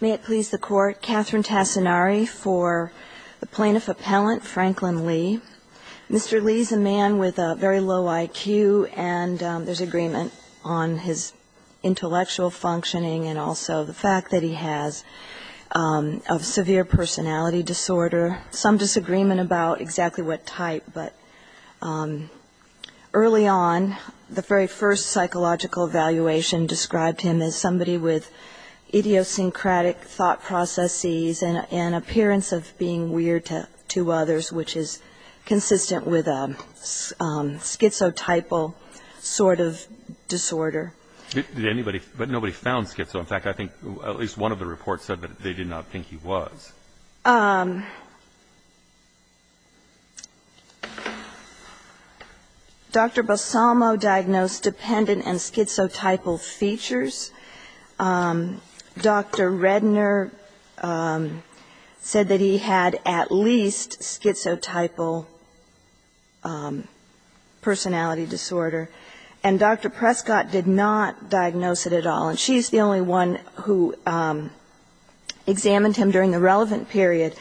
May it please the Court, Catherine Tassinari for the Plaintiff Appellant, Franklin Lee. Mr. Lee's a man with a very low IQ and there's agreement on his intellectual functioning and also the fact that he has a severe personality disorder. There's some disagreement about exactly what type, but early on the very first psychological evaluation described him as somebody with idiosyncratic thought processes and an appearance of being weird to others, which is consistent with a schizotypal sort of disorder. Did anybody, but nobody found schizo, in fact, I think at least one of the reports said that they did not think he was. Dr. Bassamo diagnosed dependent and schizotypal features. Dr. Redner said that he had at least schizotypal personality disorder. And Dr. Prescott did not diagnose it at all. And she's the only one who examined him during the relevant period.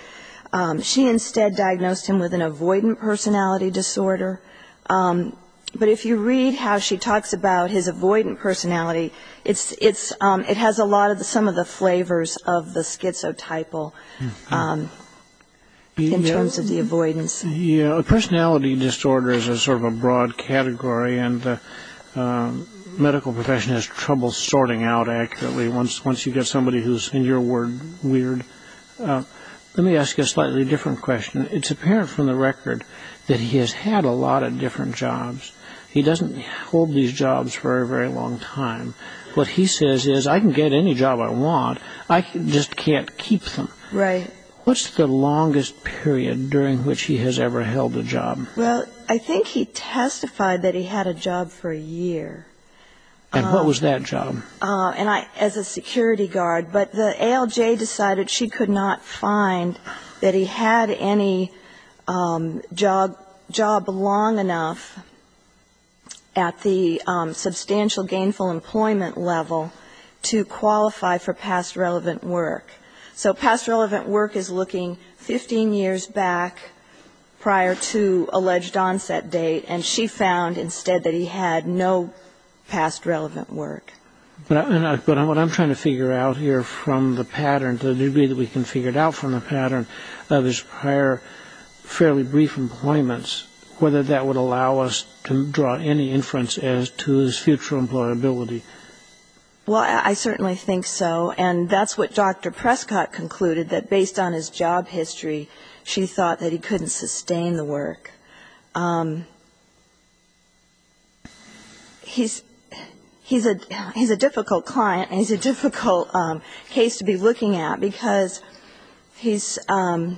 She instead diagnosed him with an avoidant personality disorder. But if you read how she talks about his avoidant personality, it has a lot of some of the flavors of the schizotypal in terms of the avoidance. Personality disorder is a sort of a broad category and the medical profession has trouble sorting out accurately once you get somebody who's, in your word, weird. Let me ask you a slightly different question. It's apparent from the record that he has had a lot of different jobs. He doesn't hold these jobs for a very long time. What he says is, I can get any job I want, I just can't keep them. Right. What's the longest period during which he has ever held a job? Well, I think he testified that he had a job for a year. And what was that job? As a security guard. But the ALJ decided she could not find that he had any job long enough at the substantial gainful employment level to qualify for past relevant work. So past relevant work is looking 15 years back prior to alleged onset date, and she found instead that he had no past relevant work. But what I'm trying to figure out here from the pattern, to the degree that we can figure it out from the pattern, there's prior fairly brief employments, whether that would allow us to draw any inference as to his future employability. Well, I certainly think so. And that's what Dr. Prescott concluded, that based on his job history, she thought that he couldn't sustain the work. He's a difficult client, and he's a difficult case to be looking at, because he's ‑‑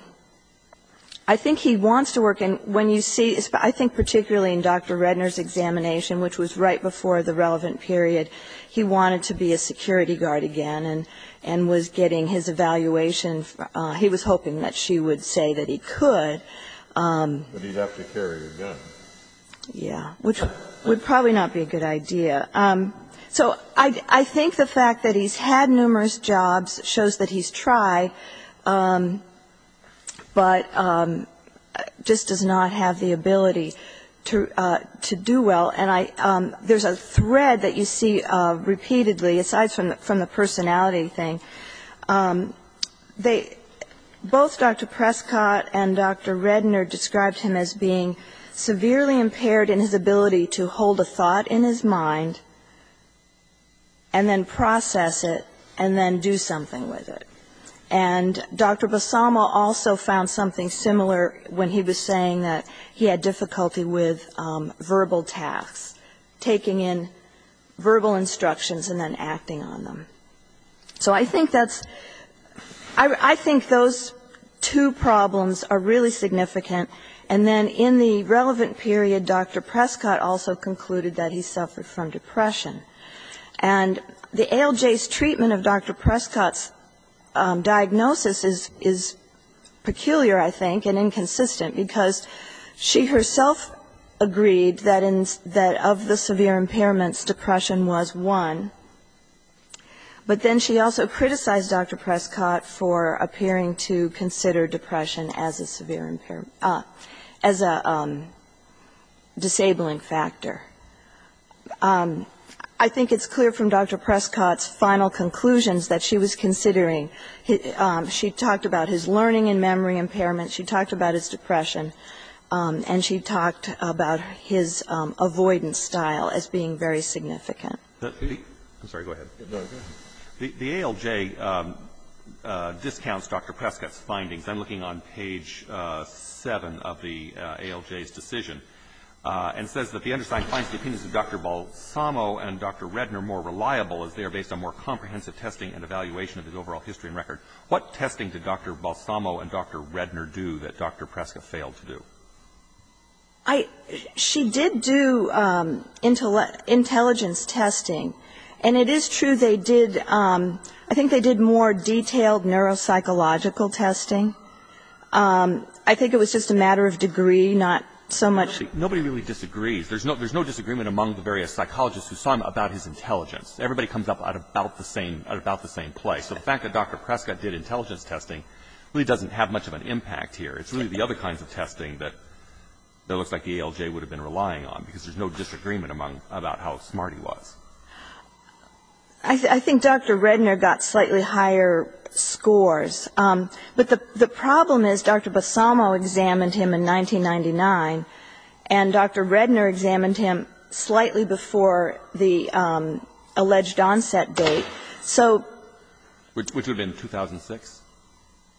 I think he wants to work. And when you see, I think particularly in Dr. Redner's examination, which was right before the relevant period, he wanted to be a security guard again and was getting his evaluation. He was hoping that she would say that he could. But he'd have to carry a gun. Yeah. Which would probably not be a good idea. So I think the fact that he's had numerous jobs shows that he's tried, but just does not have the ability to do well. And there's a thread that you see repeatedly, aside from the personality thing. Both Dr. Prescott and Dr. Redner described him as being severely impaired in his ability to hold a thought in his mind and then process it and then do something with it. And Dr. Bassamo also found something similar when he was saying that he had difficulty with verbal tasks, taking in verbal instructions and then acting on them. So I think that's ‑‑ I think those two problems are really significant. And then in the relevant period, Dr. Prescott also concluded that he suffered from depression. And the ALJ's treatment of Dr. Prescott's diagnosis is peculiar, I think, and inconsistent, because she herself agreed that of the severe impairments, depression was one. But then she also criticized Dr. Prescott for appearing to consider depression as a severe ‑‑ as a disabling factor. I think it's clear from Dr. Prescott's final conclusions that she was considering ‑‑ she talked about his learning and memory impairment, she talked about his depression, and she talked about his avoidance style as being very significant. I'm sorry. Go ahead. The ALJ discounts Dr. Prescott's findings. I'm looking on page 7 of the ALJ's decision. And it says that the undersigned finds the opinions of Dr. Bassamo and Dr. Redner more reliable as they are based on more comprehensive testing and evaluation of his overall history and record. What testing did Dr. Bassamo and Dr. Redner do that Dr. Prescott failed to do? She did do intelligence testing. And it is true they did ‑‑ I think they did more detailed neuropsychological testing. I think it was just a matter of degree, not so much ‑‑ Nobody really disagrees. There's no disagreement among the various psychologists who saw him about his intelligence. Everybody comes up at about the same place. So the fact that Dr. Prescott did intelligence testing really doesn't have much of an impact here. It's really the other kinds of testing that it looks like the ALJ would have been relying on, because there's no disagreement about how smart he was. I think Dr. Redner got slightly higher scores. But the problem is Dr. Bassamo examined him in 1999, and Dr. Redner examined him slightly before the alleged onset date. So ‑‑ Which would have been 2006?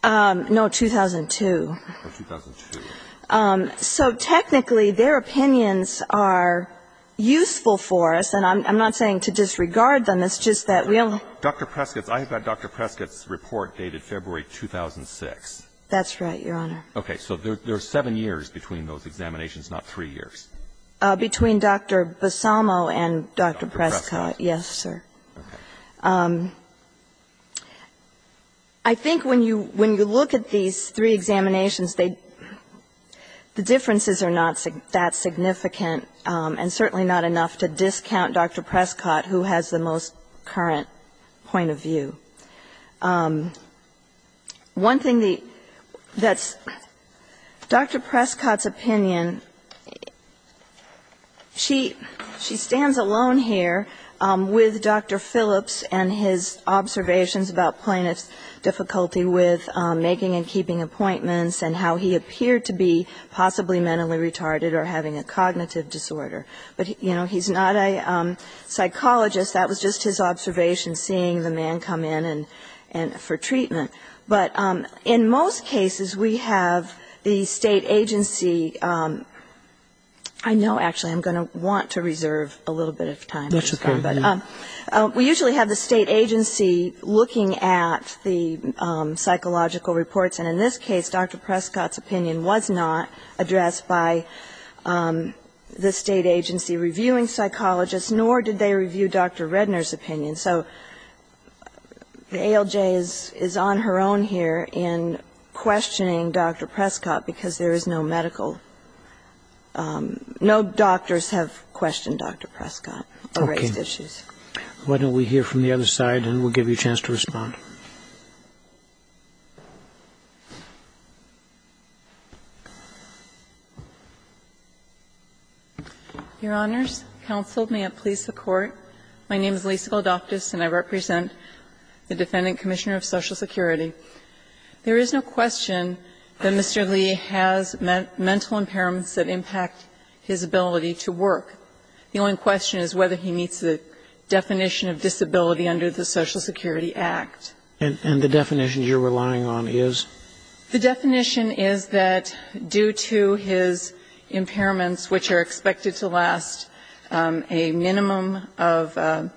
No, 2002. Oh, 2002. So technically, their opinions are useful for us. And I'm not saying to disregard them. It's just that we only ‑‑ Dr. Prescott's ‑‑ I have Dr. Prescott's report dated February 2006. That's right, Your Honor. Okay. So there are seven years between those examinations, not three years. Between Dr. Bassamo and Dr. Prescott, yes, sir. Okay. I think when you look at these three examinations, the differences are not that significant and certainly not enough to discount Dr. Prescott, who has the most current point of view. One thing that's ‑‑ Dr. Prescott's opinion, she stands alone here with Dr. Phillips and his observations about plaintiff's difficulty with making and keeping appointments and how he appeared to be possibly mentally retarded or having a cognitive disorder. But, you know, he's not a psychologist. That was just his observation, seeing the man come in for treatment. But in most cases, we have the state agency ‑‑ I know, actually, I'm going to want to reserve a little bit of time. That's okay. We usually have the state agency looking at the psychological reports. And in this case, Dr. Prescott's opinion was not addressed by the state agency reviewing psychologists, nor did they review Dr. Redner's opinion. So the ALJ is on her own here in questioning Dr. Prescott because there is no medical ‑‑ no doctors have questioned Dr. Prescott. Okay. Why don't we hear from the other side, and we'll give you a chance to respond. Your Honors, counsel, may it please the Court. My name is Lisa Goldoftus, and I represent the Defendant Commissioner of Social Security. There is no question that Mr. Lee has mental impairments that impact his ability to work. The only question is whether he meets the definition of disability under the Social Security Act. And the definition you're relying on is? The definition is that due to his impairments, which are expected to last a minimum of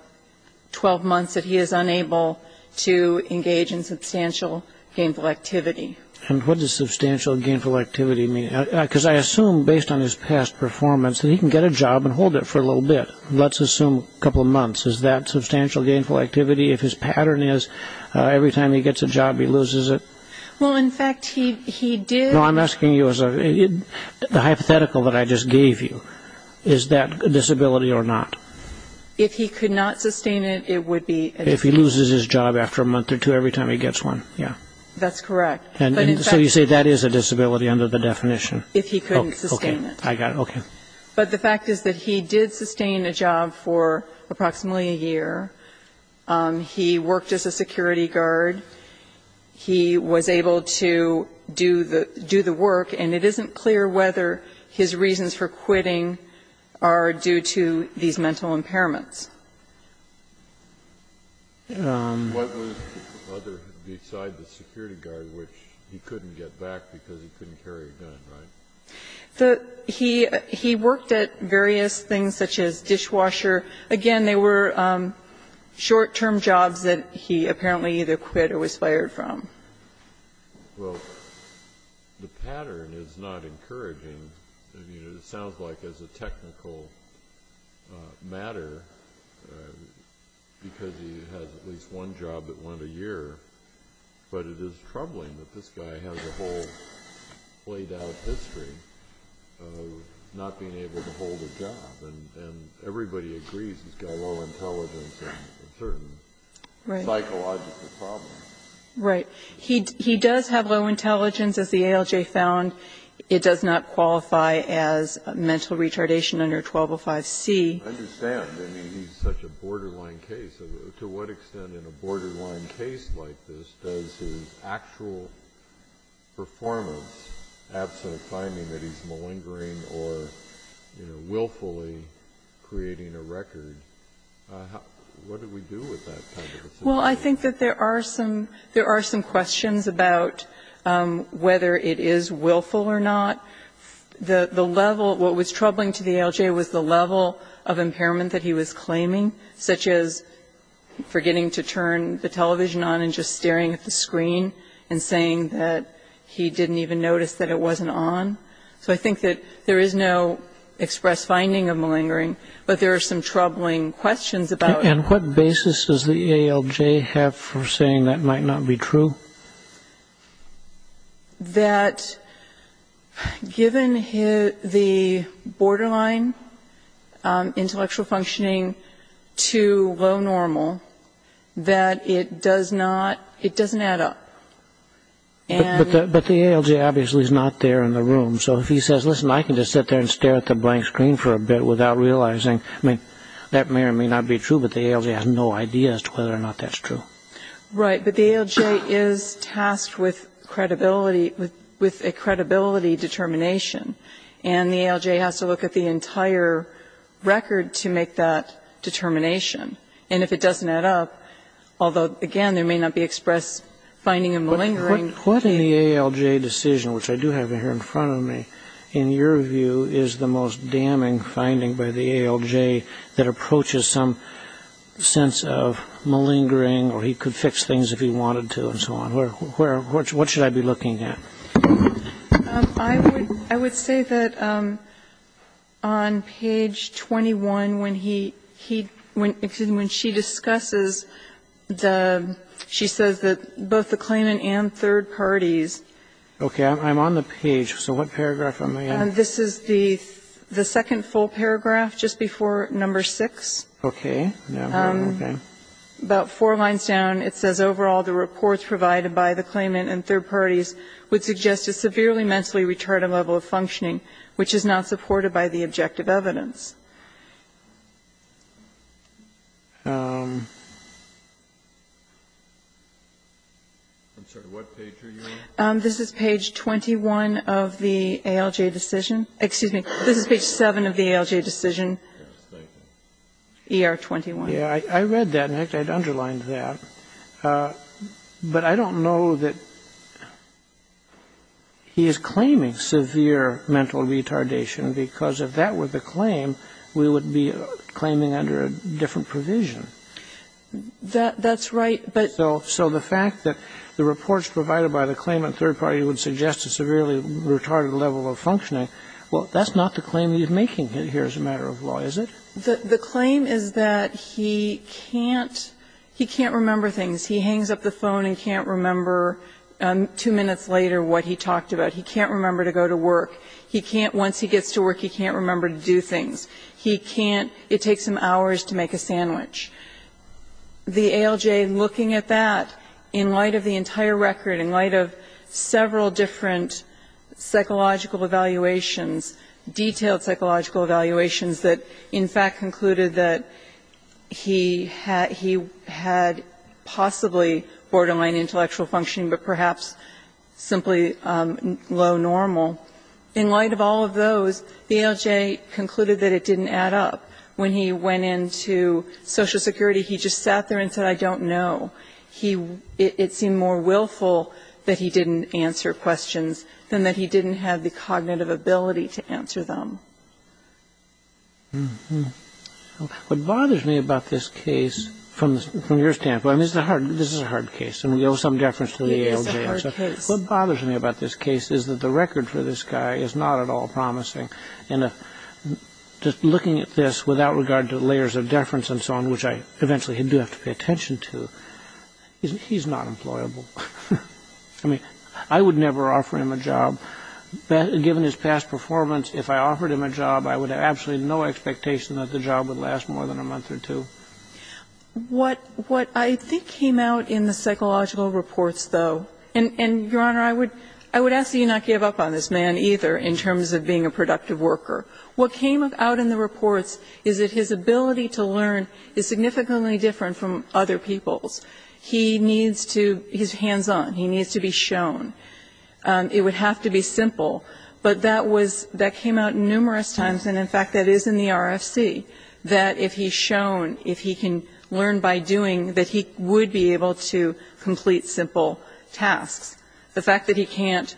12 months, that he is unable to engage in substantial gainful activity. And what does substantial gainful activity mean? Because I assume based on his past performance that he can get a job and hold it for a little bit. Let's assume a couple of months. Is that substantial gainful activity? If his pattern is every time he gets a job, he loses it? Well, in fact, he did. I'm asking you as a hypothetical that I just gave you. Is that a disability or not? If he could not sustain it, it would be a disability. If he loses his job after a month or two every time he gets one, yeah. That's correct. And so you say that is a disability under the definition? If he couldn't sustain it. Okay. I got it. Okay. But the fact is that he did sustain a job for approximately a year. He worked as a security guard. He was able to do the work. And it isn't clear whether his reasons for quitting are due to these mental impairments. What was other besides the security guard, which he couldn't get back because he couldn't carry a gun, right? He worked at various things such as dishwasher. Again, they were short-term jobs that he apparently either quit or was fired from. Well, the pattern is not encouraging. I mean, it sounds like as a technical matter, because he has at least one job that went a year, but it is troubling that this guy has a whole played-out history of not being able to hold a job. And everybody agrees he's got low intelligence and a certain psychological problem. Right. He does have low intelligence. As the ALJ found, it does not qualify as mental retardation under 1205c. I understand. I mean, he's such a borderline case. To what extent in a borderline case like this does his actual performance, absent finding that he's malingering or, you know, willfully creating a record, what do we do with that kind of a situation? Well, I think that there are some questions about whether it is willful or not. The level of what was troubling to the ALJ was the level of impairment that he was claiming, such as forgetting to turn the television on and just staring at the screen and saying that he didn't even notice that it wasn't on. So I think that there is no express finding of malingering, but there are some troubling questions about it. And what basis does the ALJ have for saying that might not be true? That given the borderline intellectual functioning to low normal, that it does not add up. But the ALJ obviously is not there in the room. So if he says, listen, I can just sit there and stare at the blank screen for a bit without The ALJ has no idea as to whether or not that's true. Right. But the ALJ is tasked with credibility, with a credibility determination. And the ALJ has to look at the entire record to make that determination. And if it doesn't add up, although, again, there may not be express finding of malingering What in the ALJ decision, which I do have here in front of me, in your view is the most damning finding by the ALJ that approaches some sense of malingering or he could fix things if he wanted to and so on? What should I be looking at? I would say that on page 21, when he, when she discusses the, she says that both the claimant and third parties. Okay. I'm on the page. So what paragraph am I on? This is the second full paragraph just before number 6. Okay. Okay. About four lines down, it says, Overall, the reports provided by the claimant and third parties would suggest a severely mentally retarded level of functioning, which is not supported by the objective I'm sorry. What page are you on? This is page 21 of the ALJ decision. Excuse me. This is page 7 of the ALJ decision. ER-21. Yeah. I read that. In fact, I'd underlined that. But I don't know that he is claiming severe mental retardation because if that were the claim, we would be claiming under a different provision. That's right, but So the fact that the reports provided by the claimant and third party would suggest a severely retarded level of functioning, well, that's not the claim he's making here as a matter of law, is it? The claim is that he can't, he can't remember things. He hangs up the phone and can't remember two minutes later what he talked about. He can't remember to go to work. He can't, once he gets to work, he can't remember to do things. He can't, it takes him hours to make a sandwich. The ALJ, looking at that, in light of the entire record, in light of several different psychological evaluations, detailed psychological evaluations that in fact concluded that he had possibly borderline intellectual functioning but perhaps simply low normal, in light of all of those, the ALJ concluded that it didn't add up. When he went into Social Security, he just sat there and said, I don't know. He, it seemed more willful that he didn't answer questions than that he didn't have the cognitive ability to answer them. What bothers me about this case, from your standpoint, I mean, this is a hard case and we owe some deference to the ALJ. It is a hard case. What bothers me about this case is that the record for this guy is not at all promising in just looking at this without regard to layers of deference and so on, which I eventually do have to pay attention to. He's not employable. I mean, I would never offer him a job. Given his past performance, if I offered him a job, I would have absolutely no expectation that the job would last more than a month or two. What I think came out in the psychological reports, though, and, Your Honor, I would ask that you not give up on this man either in terms of being a productive worker. What came out in the reports is that his ability to learn is significantly different from other people's. He needs to, he's hands-on. He needs to be shown. It would have to be simple, but that was, that came out numerous times, and in fact that is in the RFC, that if he's shown, if he can learn by doing, that he would be able to complete simple tasks. The fact that he can't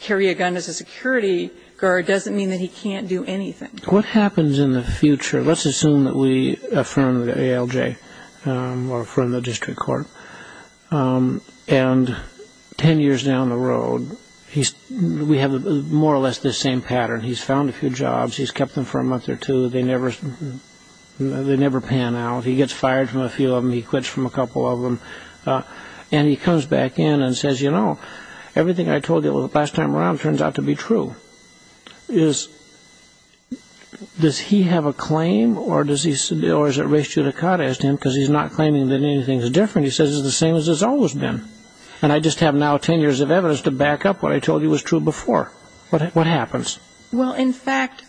carry a gun as a security guard doesn't mean that he can't do anything. What happens in the future? Let's assume that we affirm the ALJ or affirm the district court, and ten years down the road, we have more or less the same pattern. He's found a few jobs. He's kept them for a month or two. They never pan out. He gets fired from a few of them. He quits from a couple of them. And he comes back in and says, you know, everything I told you the last time around turns out to be true. Is, does he have a claim, or does he, or is it race judicata as to him, because he's not claiming that anything's different. He says it's the same as it's always been. And I just have now ten years of evidence to back up what I told you was true before. What happens? Well, in fact,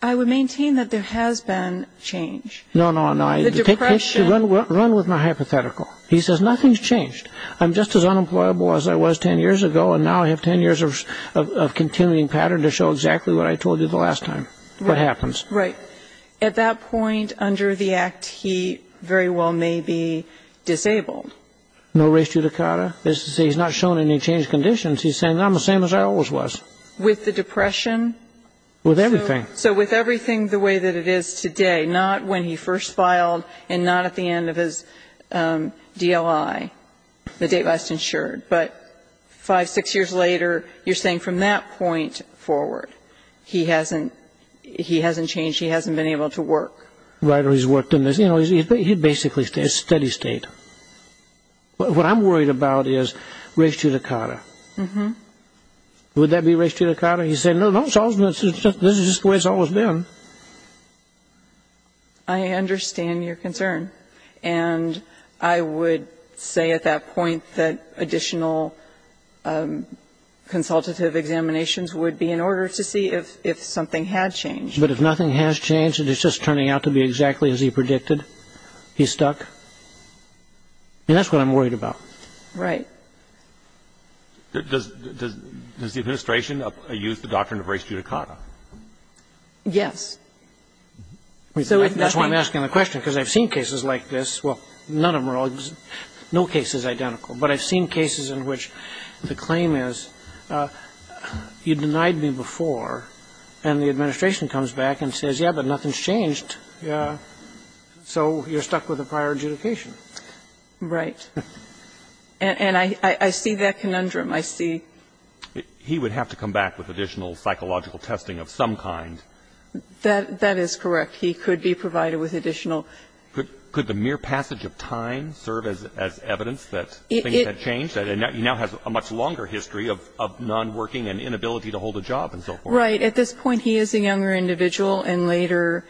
I would maintain that there has been change. No, no, no. The depression. Run with my hypothetical. He says nothing's changed. I'm just as unemployable as I was ten years ago, and now I have ten years of continuing pattern to show exactly what I told you the last time. What happens? Right. At that point under the act, he very well may be disabled. No race judicata. That's to say he's not shown any changed conditions. He's saying I'm the same as I always was. With the depression? With everything. So with everything the way that it is today, not when he first filed and not at the end of his DLI, the date last insured. But five, six years later, you're saying from that point forward, he hasn't changed. He hasn't been able to work. Right. Or he's worked in this. You know, he's basically in a steady state. What I'm worried about is race judicata. Mm-hmm. Would that be race judicata? He said, no, no, this is just the way it's always been. I understand your concern. And I would say at that point that additional consultative examinations would be in order to see if something had changed. But if nothing has changed and it's just turning out to be exactly as he predicted, he's stuck? And that's what I'm worried about. Right. Does the administration use the doctrine of race judicata? Yes. That's why I'm asking the question, because I've seen cases like this. Well, none of them are all the same. No case is identical. But I've seen cases in which the claim is, you denied me before, and the administration comes back and says, yeah, but nothing's changed. Yeah. So you're stuck with a prior adjudication. Right. And I see that conundrum. I see. He would have to come back with additional psychological testing of some kind. That is correct. He could be provided with additional. Could the mere passage of time serve as evidence that things had changed, that he now has a much longer history of nonworking and inability to hold a job and so forth? Right. At this point, he is a younger individual. And later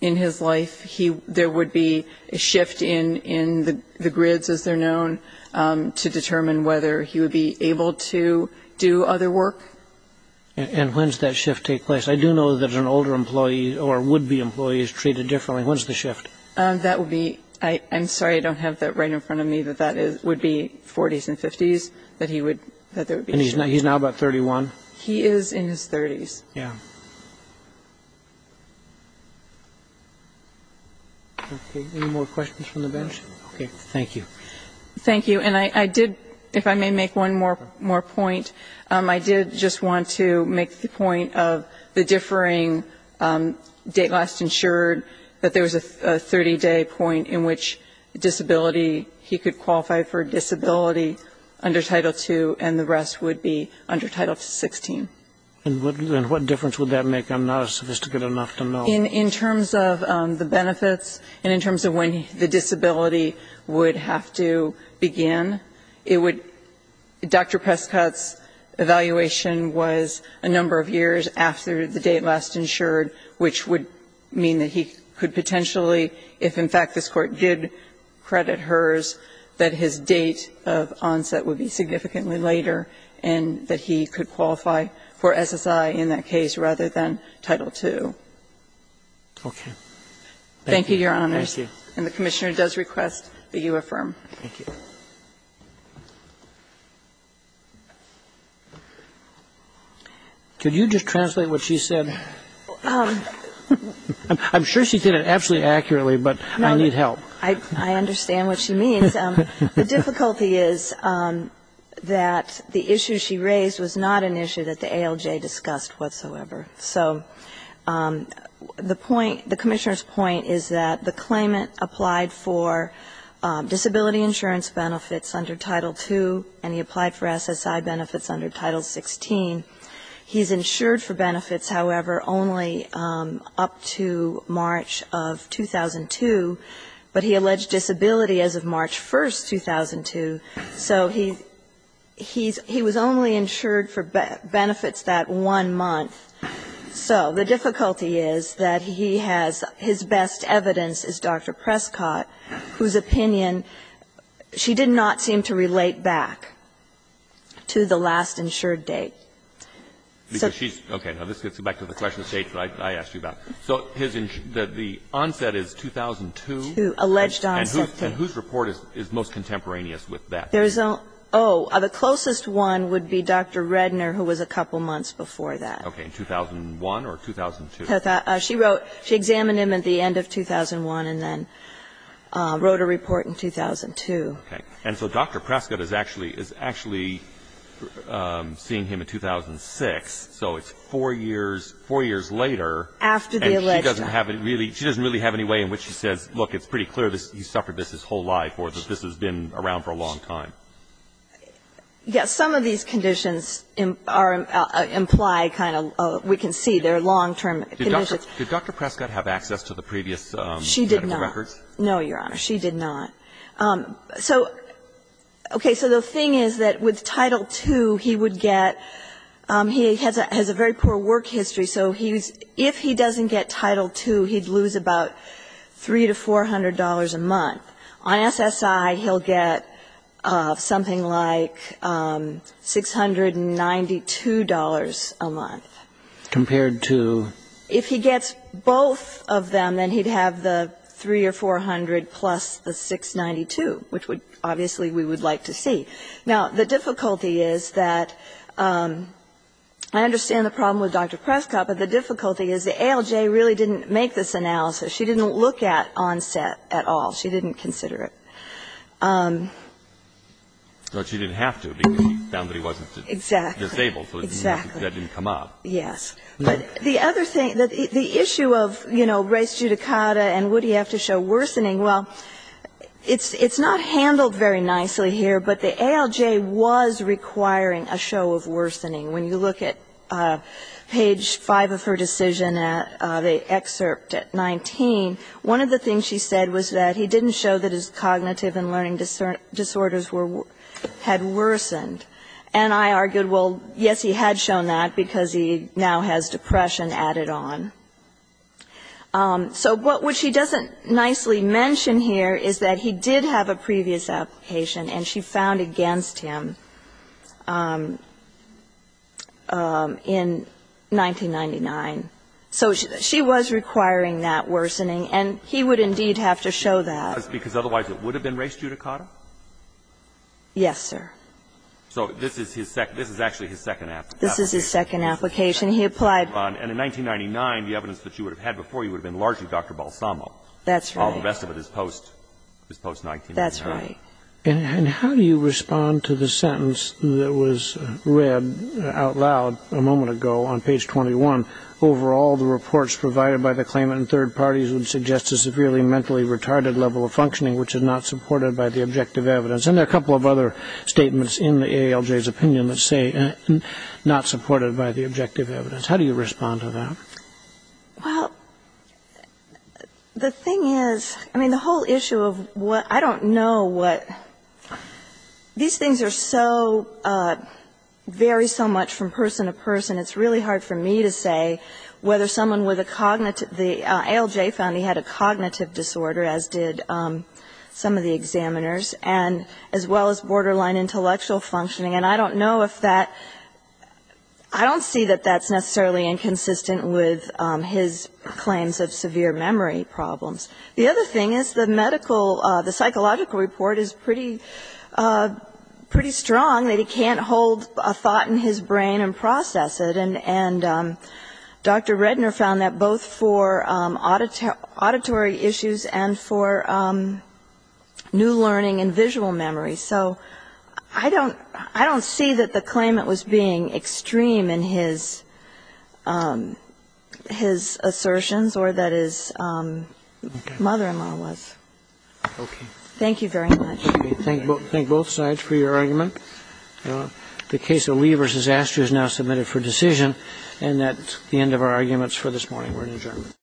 in his life, there would be a shift in the grids, as they're known, to determine whether he would be able to do other work. And when does that shift take place? I do know that an older employee or would-be employee is treated differently. When's the shift? That would be ‑‑ I'm sorry. I don't have that right in front of me, but that would be 40s and 50s, that he would ‑‑ that there would be a shift. And he's now about 31? He is in his 30s. Yeah. Okay. Any more questions from the bench? Okay. Thank you. Thank you. And I did, if I may make one more point, I did just want to make the point of the differing date last insured, that there was a 30‑day point in which disability, he could qualify for disability under Title II and the rest would be under Title XVI. And what difference would that make? I'm not as sophisticated enough to know. In terms of the benefits and in terms of when the disability would have to begin, it would ‑‑ Dr. Prescott's evaluation was a number of years after the date last insured, which would mean that he could potentially, if, in fact, this Court did credit hers, that his date of onset would be significantly later and that he could qualify for SSI in that case rather than Title II. Okay. Thank you, Your Honors. Thank you. And the Commissioner does request that you affirm. Thank you. Could you just translate what she said? I'm sure she did it absolutely accurately, but I need help. I understand what she means. The difficulty is that the issue she raised was not an issue that the ALJ discussed whatsoever. So the point, the Commissioner's point is that the claimant applied for disability insurance benefits under Title II and he applied for SSI benefits under Title XVI. He's insured for benefits, however, only up to March of 2002, but he alleged disability as of March 1, 2002. So he was only insured for benefits that one month. So the difficulty is that he has ‑‑ his best evidence is Dr. Prescott, whose opinion, she did not seem to relate back to the last insured date. Okay. Now, this gets you back to the question of dates that I asked you about. So the onset is 2002. 2002, alleged onset. And whose report is most contemporaneous with that? Oh, the closest one would be Dr. Redner, who was a couple months before that. Okay. In 2001 or 2002? She wrote ‑‑ she examined him at the end of 2001 and then wrote a report in 2002. Okay. And so Dr. Prescott is actually seeing him in 2006, so it's four years later. After the alleged onset. She doesn't really have any way in which she says, look, it's pretty clear that he suffered this his whole life or that this has been around for a long time. Yes. Some of these conditions imply kind of ‑‑ we can see they're long‑term conditions. Did Dr. Prescott have access to the previous medical records? She did not. No, Your Honor. She did not. So, okay. So the thing is that with Title II, he would get ‑‑ he has a very poor work history, so if he doesn't get Title II, he'd lose about $300 to $400 a month. On SSI, he'll get something like $692 a month. Compared to? If he gets both of them, then he'd have the $300 or $400 plus the $692, which obviously we would like to see. Now, the difficulty is that I understand the problem with Dr. Prescott, but the difficulty is the ALJ really didn't make this analysis. She didn't look at onset at all. She didn't consider it. So she didn't have to because she found that he wasn't disabled. Exactly. So that didn't come up. Yes. But the other thing, the issue of, you know, race judicata and would he have to show worsening, well, it's not handled very nicely here, but the ALJ was requiring a show of worsening. When you look at page 5 of her decision, the excerpt at 19, one of the things she said was that he didn't show that his cognitive and learning disorders had worsened. And I argued, well, yes, he had shown that because he now has depression added on. So what she doesn't nicely mention here is that he did have a previous application and she found against him in 1999. So she was requiring that worsening, and he would indeed have to show that. Because otherwise it would have been race judicata? Yes, sir. So this is his second. This is actually his second application. This is his second application. He applied. And in 1999, the evidence that she would have had before you would have been largely Dr. Balsamo. That's right. While the rest of it is post-1999. That's right. And how do you respond to the sentence that was read out loud a moment ago on page 21? Overall, the reports provided by the claimant and third parties would suggest a severely mentally retarded level of functioning which is not supported by the objective And there are a couple of other statements in the ALJ's opinion that say not supported by the objective evidence. How do you respond to that? Well, the thing is, I mean, the whole issue of what – I don't know what – these things are so – vary so much from person to person, it's really hard for me to say whether someone with a cognitive – the ALJ found he had a cognitive disorder, as did some of the examiners, and as well as borderline intellectual functioning. And I don't know if that – I don't see that that's necessarily inconsistent with his claims of severe memory problems. The other thing is the medical – the psychological report is pretty – pretty strong that he can't hold a thought in his brain and process it. And Dr. Redner found that both for auditory issues and for new learning and visual memory. So I don't – I don't see that the claimant was being extreme in his assertions or that his mother-in-law was. Okay. Thank you very much. Okay. Thank both sides for your argument. The case of Lee v. Astor is now submitted for decision. And that's the end of our arguments for this morning. We're adjourned.